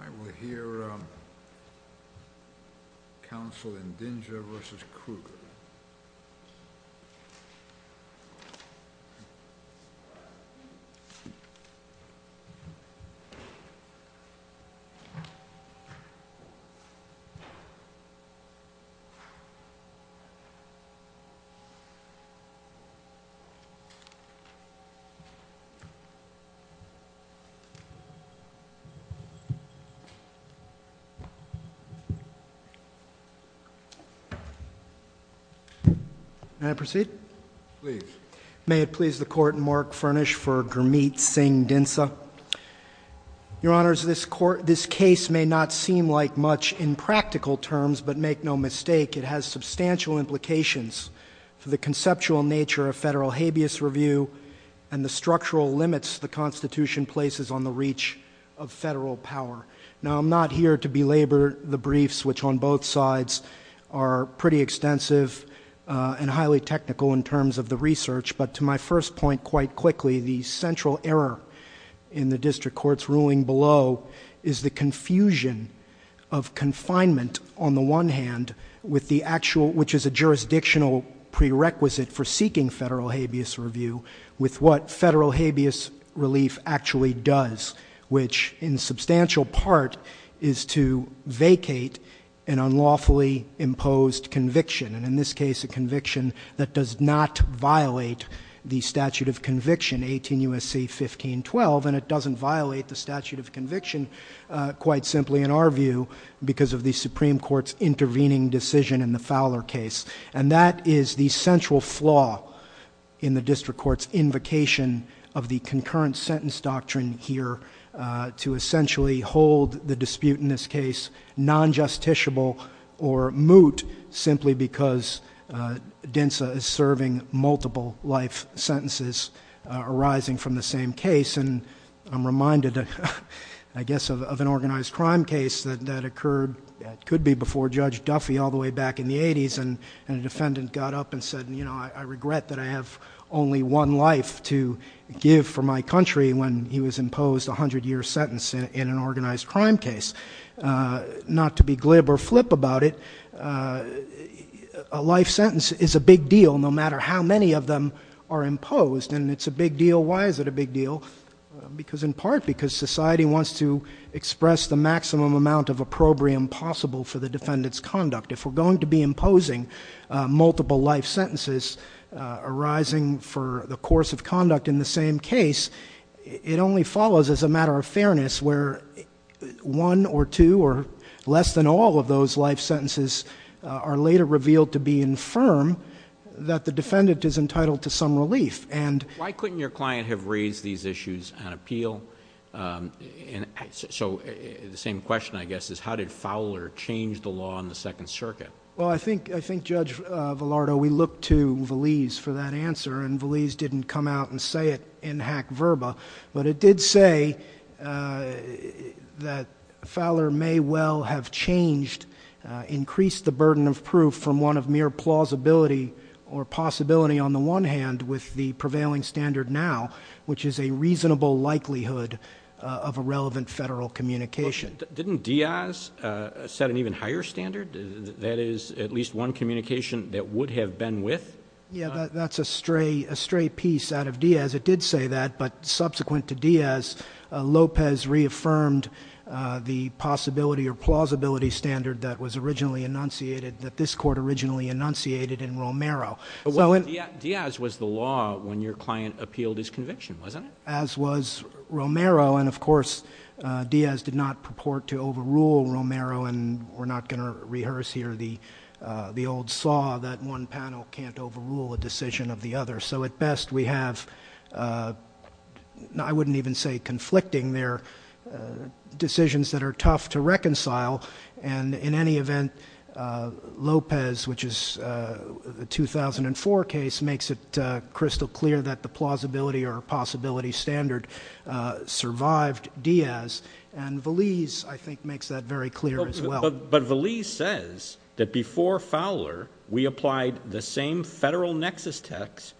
I will hear counsel in Dinsa v. Krueger. May it please the Court and Mark Furnish for Gurmeet Singh Dinsa. Your Honors, this case may not seem like much in practical terms, but make no mistake, it has substantial implications for the conceptual nature of federal habeas review and the structural power. Now, I'm not here to belabor the briefs, which on both sides are pretty extensive and highly technical in terms of the research, but to my first point quite quickly, the central error in the District Court's ruling below is the confusion of confinement on the one hand, which is a jurisdictional prerequisite for seeking federal habeas review, with what federal habeas relief actually does, which in substantial part is to vacate an unlawfully imposed conviction, and in this case, a conviction that does not violate the statute of conviction 18 U.S.C. 1512, and it doesn't violate the statute of conviction quite simply in our view because of the Supreme Court's intervening decision in the Fowler case. And that is the central flaw in the District Court's invocation of the concurrent sentence doctrine here to essentially hold the dispute in this case non-justiciable or moot simply because Dinsa is serving multiple life sentences arising from the same case. And I'm reminded, I guess, of an organized crime case that occurred, that could be before Judge Duffy all the way back in the 80s, and a defendant got up and said, you know, I regret that I have only one life to give for my country when he was imposed a 100-year sentence in an organized crime case. Not to be glib or flip about it, a life sentence is a big deal no matter how many of them are imposed, and it's a big deal. Why is it a big deal? Because in part because society wants to express the maximum amount of opprobrium possible for the defendant's conduct. If we're going to be imposing multiple life sentences arising for the course of conduct in the same case, it only follows as a matter of fairness where one or two or less than all of those life sentences are later revealed to be infirm that the defendant is entitled to some relief. And... Why couldn't your client have raised these issues on appeal? So, the same question, I guess, is how did Fowler change the law in the Second Circuit? Well, I think, Judge Velardo, we looked to Valise for that answer, and Valise didn't come out and say it in hack verba, but it did say that Fowler may well have changed, increased the burden of proof from one of mere plausibility or possibility on the one hand, with the prevailing standard now, which is a reasonable likelihood of a relevant federal communication. Didn't Diaz set an even higher standard, that is, at least one communication that would have been with... Yeah, that's a stray piece out of Diaz. It did say that, but subsequent to Diaz, Lopez reaffirmed the possibility or plausibility standard that was originally enunciated, that this Court originally enunciated in Romero. So, Diaz was the law when your client appealed his conviction, wasn't it? As was Romero, and of course, Diaz did not purport to overrule Romero, and we're not going to rehearse here the old saw that one panel can't overrule a decision of the other. So at best, we have, I wouldn't even say conflicting there, decisions that are tough to reconcile, and in any event, Lopez, which is a 2004 case, makes it crystal clear that the plausibility or possibility standard survived Diaz, and Valise, I think, makes that very clear as well. But Valise says that before Fowler, we applied the same federal nexus test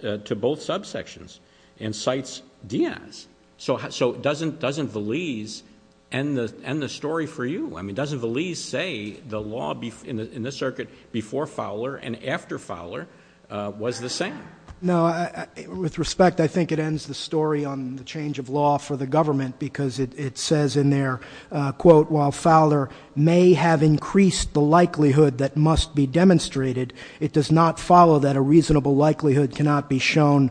to both subsections and cites Diaz. So doesn't Valise end the story for you? I mean, doesn't Valise say the law in this circuit before Fowler and after Fowler was the same? No. With respect, I think it ends the story on the change of law for the government because it says in there, quote, while Fowler may have increased the likelihood that must be demonstrated, it does not follow that a reasonable likelihood cannot be shown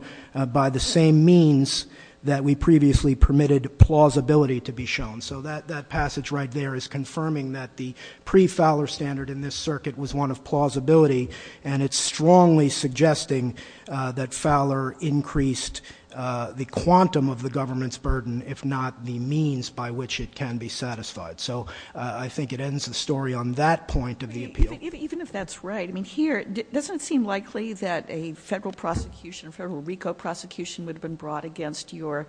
by the same means that we previously permitted plausibility to be shown. So that passage right there is confirming that the pre-Fowler standard in this circuit was one of plausibility, and it's strongly suggesting that Fowler increased the quantum of the government's burden, if not the means by which it can be satisfied. So I think it ends the story on that point of the appeal. Even if that's right. I mean, here, doesn't it seem likely that a federal prosecution, a federal RICO prosecution would have been brought against your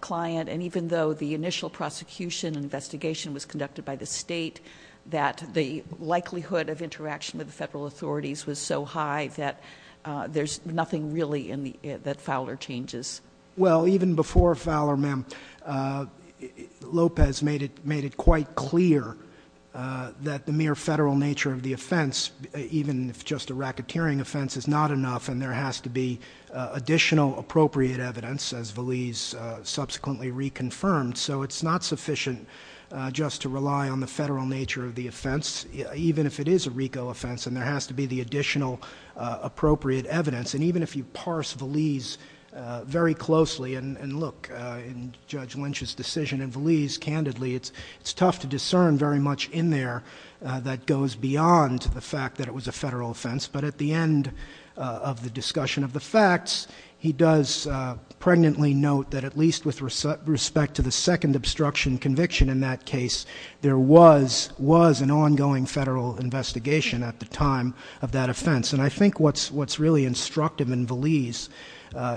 client, and even though the initial prosecution investigation was conducted by the state, that the likelihood of interaction with the federal authorities was so high that there's nothing really in the, that Fowler changes? Well, even before Fowler, ma'am, Lopez made it quite clear that the mere federal nature of the offense, even if just a racketeering offense, is not enough, and there has to be additional appropriate evidence, as Valise subsequently reconfirmed. So it's not sufficient just to rely on the federal nature of the offense, even if it is a RICO offense, and there has to be the additional appropriate evidence, and even if you parse Valise very closely and look in Judge Lynch's decision and Valise candidly, it's tough to discern very much in there that goes beyond the fact that it was a federal offense, but at the end of the discussion of the facts, he does pregnantly note that at least with respect to the second obstruction conviction in that case, there was an ongoing federal investigation at the time of that offense, and I think what's really instructive in Valise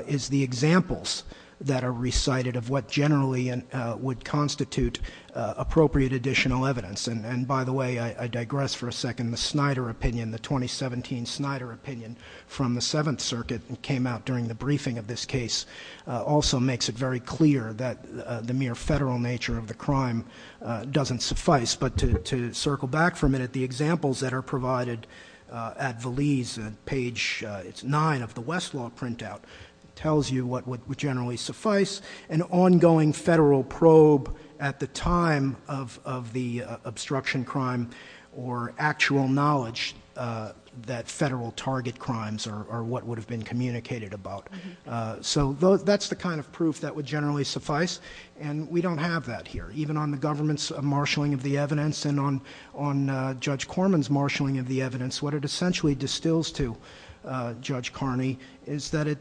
is the examples that are recited of what generally would constitute appropriate additional evidence, and by the way, I digress for a second, the Snyder opinion, the 2017 Snyder opinion from the Seventh Circuit that came out during the briefing of this case also makes it very clear that the mere federal nature of the crime doesn't suffice, but to circle back for a minute, the examples that are provided at Valise, page nine of the West Law printout, tells you what would generally suffice, an ongoing federal probe at the time of the obstruction crime or actual knowledge that federal target crimes are what would have been communicated about, so that's the kind of proof that would generally suffice, and we don't have that here, even on the government's marshaling of the evidence and on Judge Corman's marshaling of the evidence, what it essentially distills to Judge Carney is that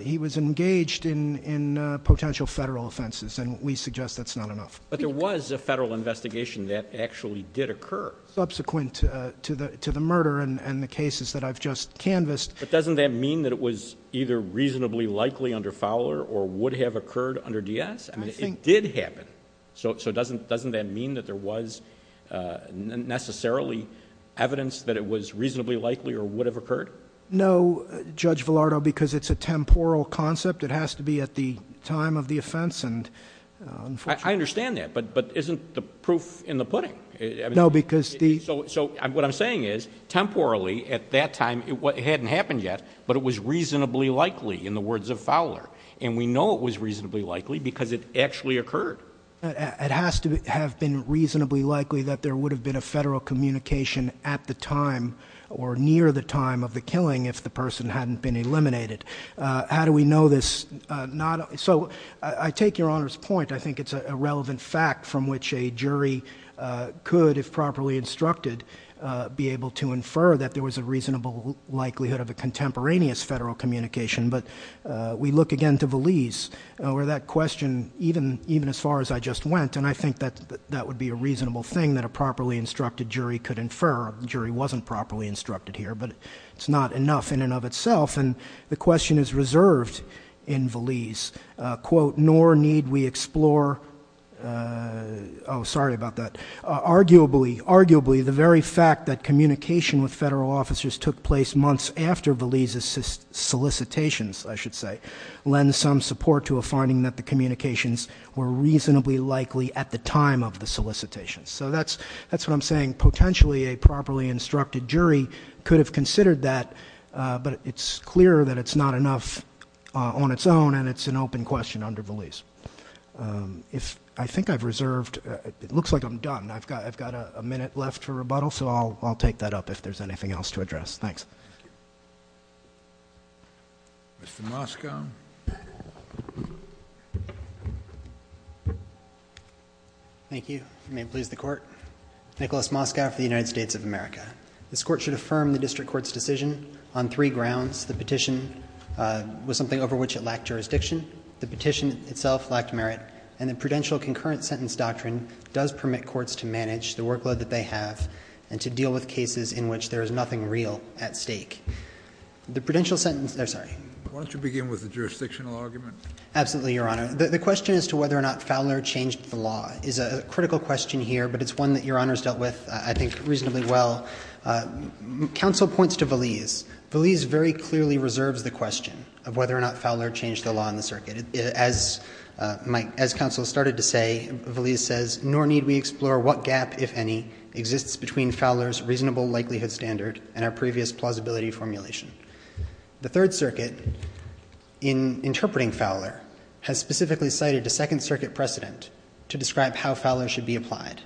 he was engaged in potential federal offenses, and we suggest that's not enough. But there was a federal investigation that actually did occur. Subsequent to the murder and the cases that I've just canvassed. But doesn't that mean that it was either reasonably likely under Fowler or would have occurred under Diaz? I think... It did happen. So doesn't that mean that there was necessarily evidence that it was reasonably likely or would have occurred? No, Judge Velardo, because it's a temporal concept. It has to be at the time of the offense, and unfortunately... I understand that, but isn't the proof in the pudding? No, because the... So what I'm saying is, temporally, at that time, it hadn't happened yet, but it was reasonably likely in the words of Fowler, and we know it was reasonably likely because it actually occurred. It has to have been reasonably likely that there would have been a federal communication at the time or near the time of the killing if the person hadn't been eliminated. How do we know this? So I take Your Honor's point. I think it's a relevant fact from which a jury could, if properly instructed, be able to infer that there was a reasonable likelihood of a contemporaneous federal communication. But we look again to Valise, where that question, even as far as I just went, and I think that would be a reasonable thing that a properly instructed jury could infer. A jury wasn't properly instructed here, but it's not enough in and of itself. And the question is reserved in Valise, quote, nor need we explore, oh, sorry about that. Arguably, the very fact that communication with federal officers took place months after Valise's solicitations, I should say, lend some support to a finding that the communications were reasonably likely at the time of the solicitations. So that's what I'm saying. I think potentially a properly instructed jury could have considered that, but it's clear that it's not enough on its own, and it's an open question under Valise. If I think I've reserved, it looks like I'm done. I've got a minute left for rebuttal, so I'll take that up if there's anything else to address. Thanks. Mr. Moskow. Thank you. May it please the Court. Nicholas Moskow for the United States of America. This Court should affirm the district court's decision on three grounds. The petition was something over which it lacked jurisdiction. The petition itself lacked merit. And the prudential concurrent sentence doctrine does permit courts to manage the workload that they have and to deal with cases in which there is nothing real at stake. The prudential sentence — oh, sorry. Why don't you begin with the jurisdictional argument? Absolutely, Your Honor. The question as to whether or not Fowler changed the law is a critical question here, but it's one that Your Honor's dealt with, I think, reasonably well. Counsel points to Valise. Valise very clearly reserves the question of whether or not Fowler changed the law in the circuit. As counsel started to say, Valise says, nor need we explore what gap, if any, exists between Fowler's reasonable likelihood standard and our previous plausibility formulation. The Third Circuit, in interpreting Fowler, has specifically cited a Second Circuit precedent to describe how Fowler should be applied.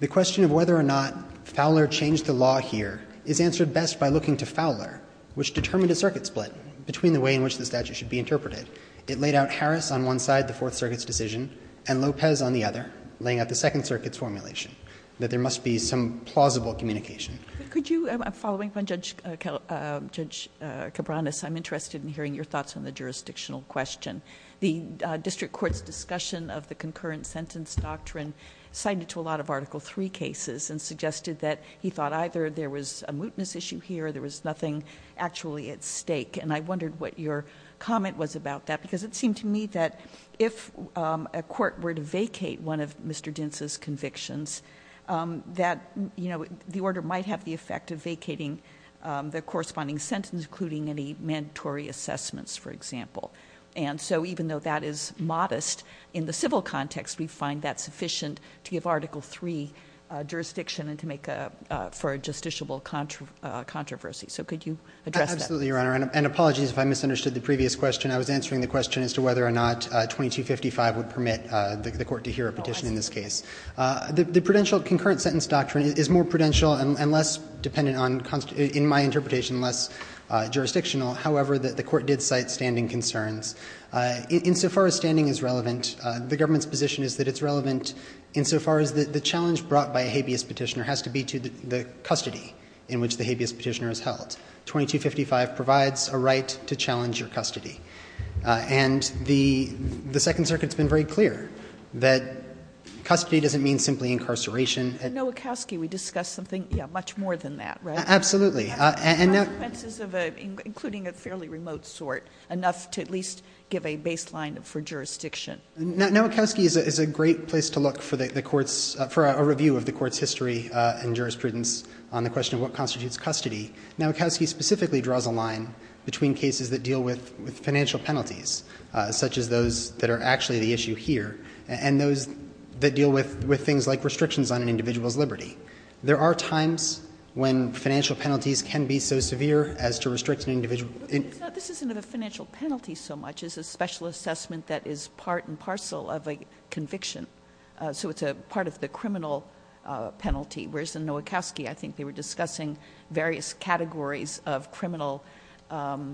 The question of whether or not Fowler changed the law here is answered best by looking to Fowler, which determined a circuit split between the way in which the statute should be interpreted. It laid out Harris on one side, the Fourth Circuit's decision, and Lopez on the other, laying out the Second Circuit's formulation, that there must be some plausible communication. Could you — following from Judge Cabranes, I'm interested in hearing your thoughts on the jurisdictional question. The district court's discussion of the concurrent sentence doctrine cited to a lot of Article III cases and suggested that he thought either there was a mootness issue here or there was nothing actually at stake. And I wondered what your comment was about that, because it seemed to me that if a court were to vacate one of Mr. Dintz's convictions, that, you know, the order might have the effect of vacating the corresponding sentence, including any mandatory assessments, for example. And so even though that is modest in the civil context, we find that sufficient to give Article III jurisdiction and to make a — for a justiciable controversy. So could you address that? Absolutely, Your Honor, and apologies if I misunderstood the previous question. I was answering the question as to whether or not 2255 would permit the court to hear a petition in this case. The prudential — the concurrent sentence doctrine is more prudential and less dependent on — in my interpretation, less jurisdictional. However, the court did cite standing concerns. Insofar as standing is relevant, the government's position is that it's relevant insofar as the challenge brought by a habeas petitioner has to be to the custody in which the habeas petitioner is held. 2255 provides a right to challenge your custody. And the Second Circuit's been very clear that custody doesn't mean simply incarceration. In Nowakowski, we discussed something — yeah, much more than that, right? Absolutely. And — Consequences of a — including a fairly remote sort, enough to at least give a baseline for jurisdiction. Nowakowski is a great place to look for the court's — for a review of the court's history and jurisprudence on the question of what constitutes custody. Nowakowski specifically draws a line between cases that deal with financial penalties, such as those that are actually the issue here, and those that deal with things like restrictions on an individual's liberty. There are times when financial penalties can be so severe as to restrict an individual — But this isn't a financial penalty so much as a special assessment that is part and parcel of a conviction. So it's a part of the criminal penalty, whereas in Nowakowski, I think they were discussing various categories of criminal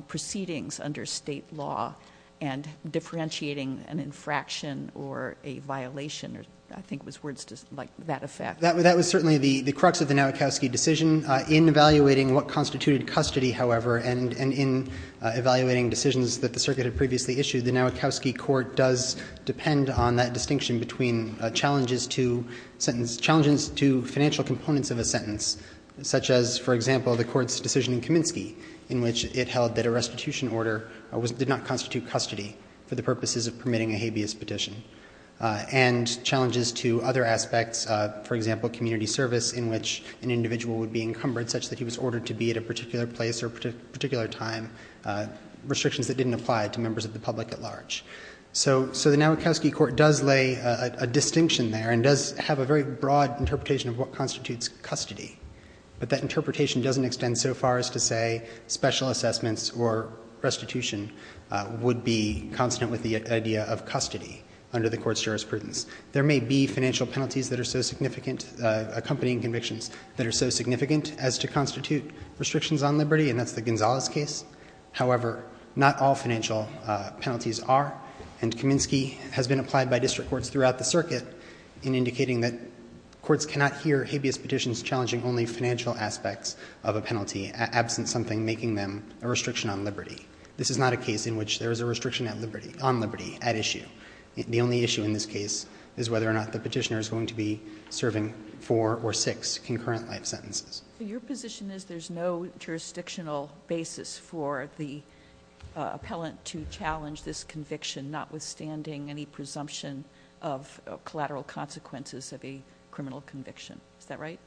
proceedings under state law and differentiating an infraction or a violation or — I think it was words like that effect. That was certainly the crux of the Nowakowski decision. In evaluating what constituted custody, however, and in evaluating decisions that the circuit had previously issued, the Nowakowski court does depend on that distinction between challenges to sentence — challenges to financial components of a sentence, such as, for example, the court's decision in Kaminsky, in which it held that a restitution order did not constitute custody for the purposes of permitting a habeas petition. And challenges to other aspects, for example, community service, in which an individual would be encumbered such that he was ordered to be at a particular place or a particular time — restrictions that didn't apply to members of the public at large. So the Nowakowski court does lay a distinction there and does have a very broad interpretation of what constitutes custody, but that interpretation doesn't extend so far as to say special assessments or restitution would be consonant with the idea of custody under the court's jurisprudence. There may be financial penalties that are so significant — accompanying convictions that are so significant as to constitute restrictions on liberty, and that's the Gonzales case. However, not all financial penalties are, and Kaminsky has been applied by district courts throughout the circuit in indicating that courts cannot hear habeas petitions challenging only financial aspects of a penalty, absent something making them a restriction on liberty. This is not a case in which there is a restriction on liberty at issue. The only issue in this case is whether or not the petitioner is going to be serving four or six concurrent life sentences. Your position is there's no jurisdictional basis for the appellant to challenge this conviction, notwithstanding any presumption of collateral consequences of a criminal conviction. Is that right?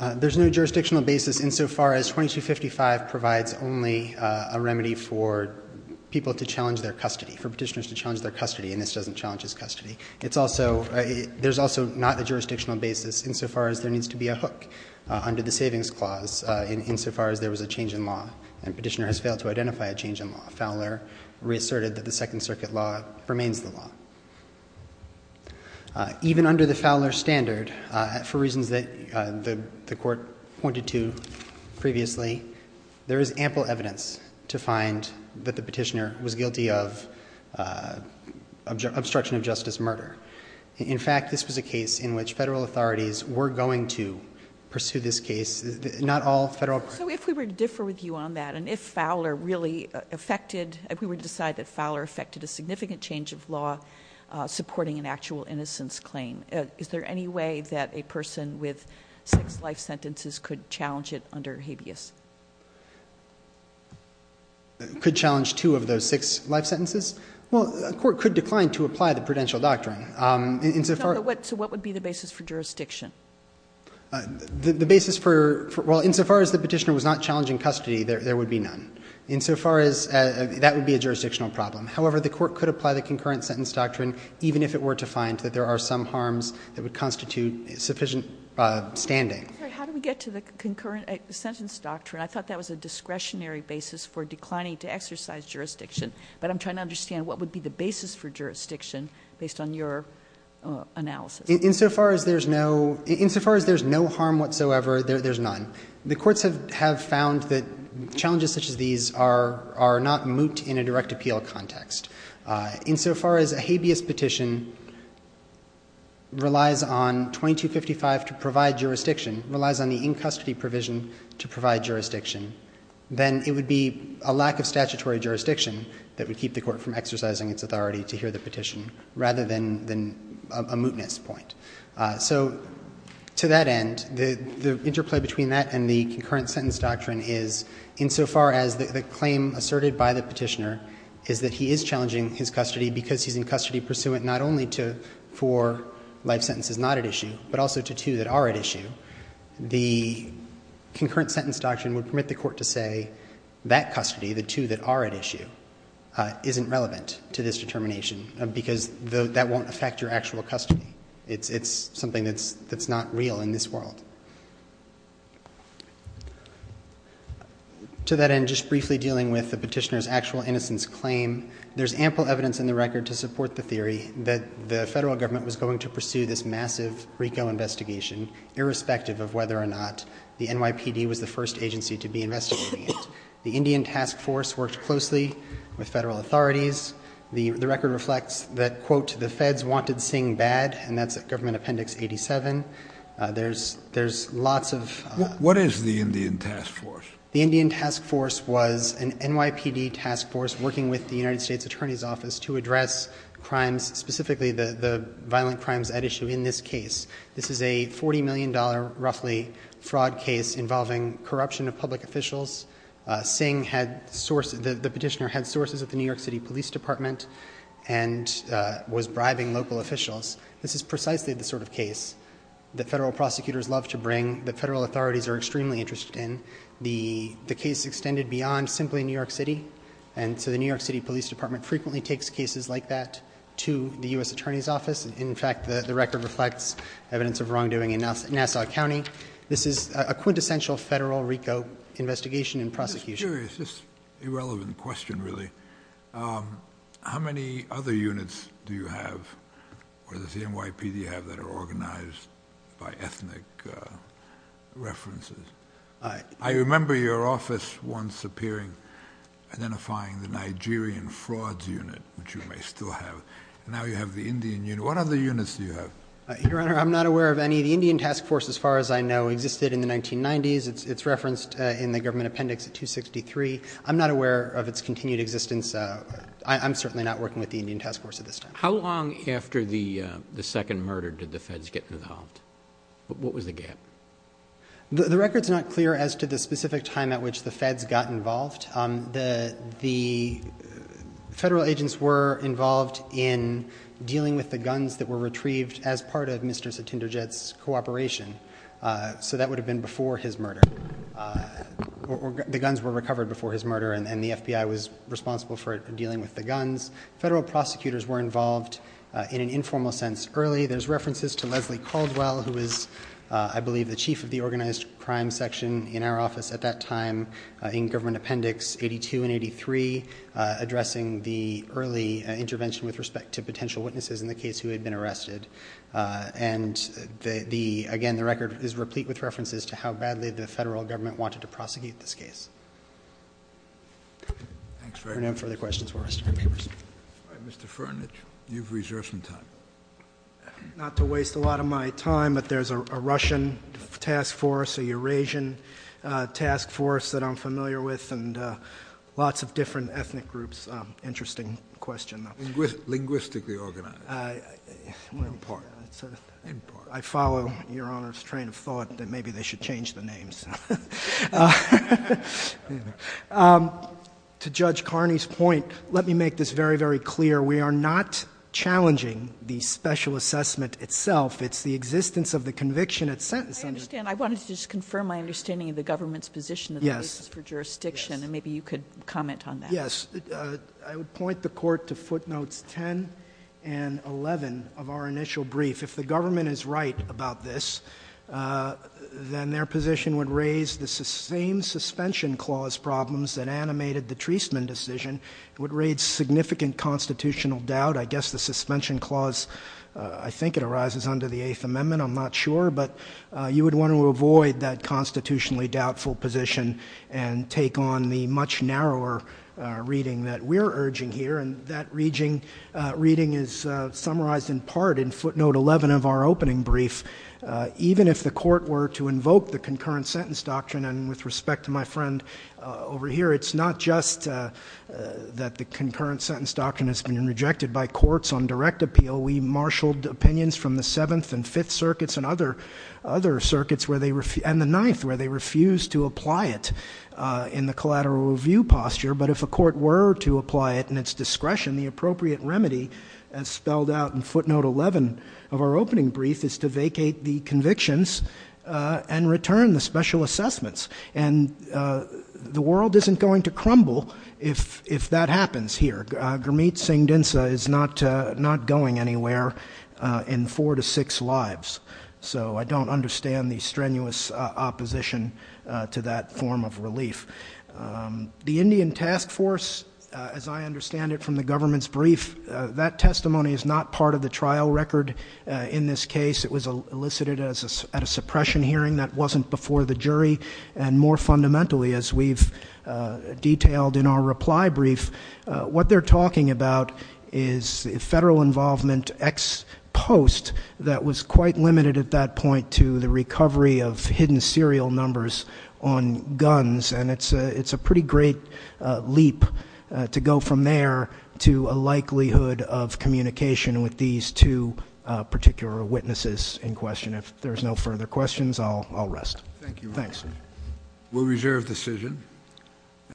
There's no jurisdictional basis insofar as 2255 provides only a remedy for people to challenge their custody, for petitioners to challenge their custody, and this doesn't challenge his custody. It's also — there's also not a jurisdictional basis insofar as there needs to be a hook under the Savings Clause insofar as there was a change in law, and a petitioner has failed to identify a change in law. Fowler reasserted that the Second Circuit law remains the law. Even under the Fowler standard, for reasons that the Court pointed to previously, there is ample evidence to find that the petitioner was guilty of obstruction of justice murder. In fact, this was a case in which federal authorities were going to pursue this case. Not all federal — So if we were to differ with you on that, and if Fowler really affected — if we were an actual innocence claim, is there any way that a person with six life sentences could challenge it under habeas? Could challenge two of those six life sentences? Well, a court could decline to apply the prudential doctrine. Insofar as — So what would be the basis for jurisdiction? The basis for — well, insofar as the petitioner was not challenged in custody, there would be none. Insofar as — that would be a jurisdictional problem. However, the court could apply the concurrent sentence doctrine, even if it were to find that there are some harms that would constitute sufficient standing. How do we get to the concurrent sentence doctrine? I thought that was a discretionary basis for declining to exercise jurisdiction, but I'm trying to understand what would be the basis for jurisdiction based on your analysis. Insofar as there's no — insofar as there's no harm whatsoever, there's none. The courts have found that challenges such as these are not moot in a direct appeal context. Insofar as a habeas petition relies on 2255 to provide jurisdiction, relies on the in-custody provision to provide jurisdiction, then it would be a lack of statutory jurisdiction that would keep the court from exercising its authority to hear the petition rather than a mootness point. So to that end, the interplay between that and the concurrent sentence doctrine is, insofar as the claim asserted by the petitioner is that he is challenging his custody because he's in custody pursuant not only for life sentences not at issue, but also to two that are at issue, the concurrent sentence doctrine would permit the court to say that custody, the two that are at issue, isn't relevant to this determination because that won't affect your actual custody. It's something that's not real in this world. To that end, just briefly dealing with the petitioner's actual innocence claim, there's ample evidence in the record to support the theory that the federal government was going to pursue this massive RICO investigation irrespective of whether or not the NYPD was the first agency to be investigating it. The Indian task force worked closely with federal authorities. The record reflects that, quote, the feds wanted Singh bad, and that's at government appendix 87. There's lots of- What is the Indian task force? The Indian task force was an NYPD task force working with the United States Attorney's Office to address crimes, specifically the violent crimes at issue in this case. This is a $40 million, roughly, fraud case involving corruption of public officials. Singh had sources, the petitioner had sources at the New York City Police Department and was bribing local officials. This is precisely the sort of case that federal prosecutors love to bring, that federal authorities are extremely interested in. The case extended beyond simply New York City. And so the New York City Police Department frequently takes cases like that to the US Attorney's Office. In fact, the record reflects evidence of wrongdoing in Nassau County. This is a quintessential federal RICO investigation and prosecution. Just curious, just irrelevant question, really, how many other units do you have, or does the NYPD have, that are organized by ethnic references? I remember your office once appearing, identifying the Nigerian frauds unit, which you may still have, and now you have the Indian unit. What other units do you have? Your Honor, I'm not aware of any. The Indian task force, as far as I know, existed in the 1990s. It's referenced in the government appendix at 263. I'm not aware of its continued existence. I'm certainly not working with the Indian task force at this time. How long after the second murder did the feds get involved? What was the gap? The record's not clear as to the specific time at which the feds got involved. The federal agents were involved in dealing with the guns that were retrieved as part of Mr. Satindrajit's cooperation, so that would have been before his murder. The guns were recovered before his murder, and the FBI was responsible for dealing with the guns. Federal prosecutors were involved in an informal sense early. There's references to Leslie Caldwell, who was, I believe, the chief of the organized crime section in our office at that time, in government appendix 82 and 83, addressing the early intervention with respect to potential witnesses in the case who had been arrested. And again, the record is replete with references to how badly the federal government wanted to prosecute this case. No further questions for the rest of the papers. Mr. Furnish, you've reserved some time. Not to waste a lot of my time, but there's a Russian task force, a Eurasian task force that I'm familiar with, and lots of different ethnic groups, interesting question. Linguistically organized. I follow your Honor's train of thought that maybe they should change the names. To Judge Carney's point, let me make this very, very clear. We are not challenging the special assessment itself. It's the existence of the conviction at sentence. I understand. I wanted to just confirm my understanding of the government's position of the cases for jurisdiction, and maybe you could comment on that. Yes, I would point the court to footnotes 10 and 11 of our initial brief. If the government is right about this, then their position would raise the same suspension clause problems that animated the Treasman decision. It would raise significant constitutional doubt. I guess the suspension clause, I think it arises under the Eighth Amendment, I'm not sure. But you would want to avoid that constitutionally doubtful position and take on the much narrower reading that we're urging here. And that reading is summarized in part in footnote 11 of our opening brief. Even if the court were to invoke the concurrent sentence doctrine, and with respect to my friend over here, it's not just that the concurrent sentence doctrine has been rejected by courts on direct appeal. We marshaled opinions from the Seventh and Fifth Circuits and other circuits, and even the Ninth, where they refused to apply it in the collateral review posture. But if a court were to apply it in its discretion, the appropriate remedy, as spelled out in footnote 11 of our opening brief, is to vacate the convictions and return the special assessments. And the world isn't going to crumble if that happens here. Gurmeet Singh Dinsa is not going anywhere in four to six lives. So I don't understand the strenuous opposition to that form of relief. The Indian Task Force, as I understand it from the government's brief, that testimony is not part of the trial record in this case. It was elicited at a suppression hearing that wasn't before the jury. And more fundamentally, as we've detailed in our reply brief, what they're talking about is federal involvement ex post that was quite limited at that point to the recovery of hidden serial numbers on guns. And it's a pretty great leap to go from there to a likelihood of communication with these two particular witnesses in question. If there's no further questions, I'll rest. Thanks. We'll reserve decision.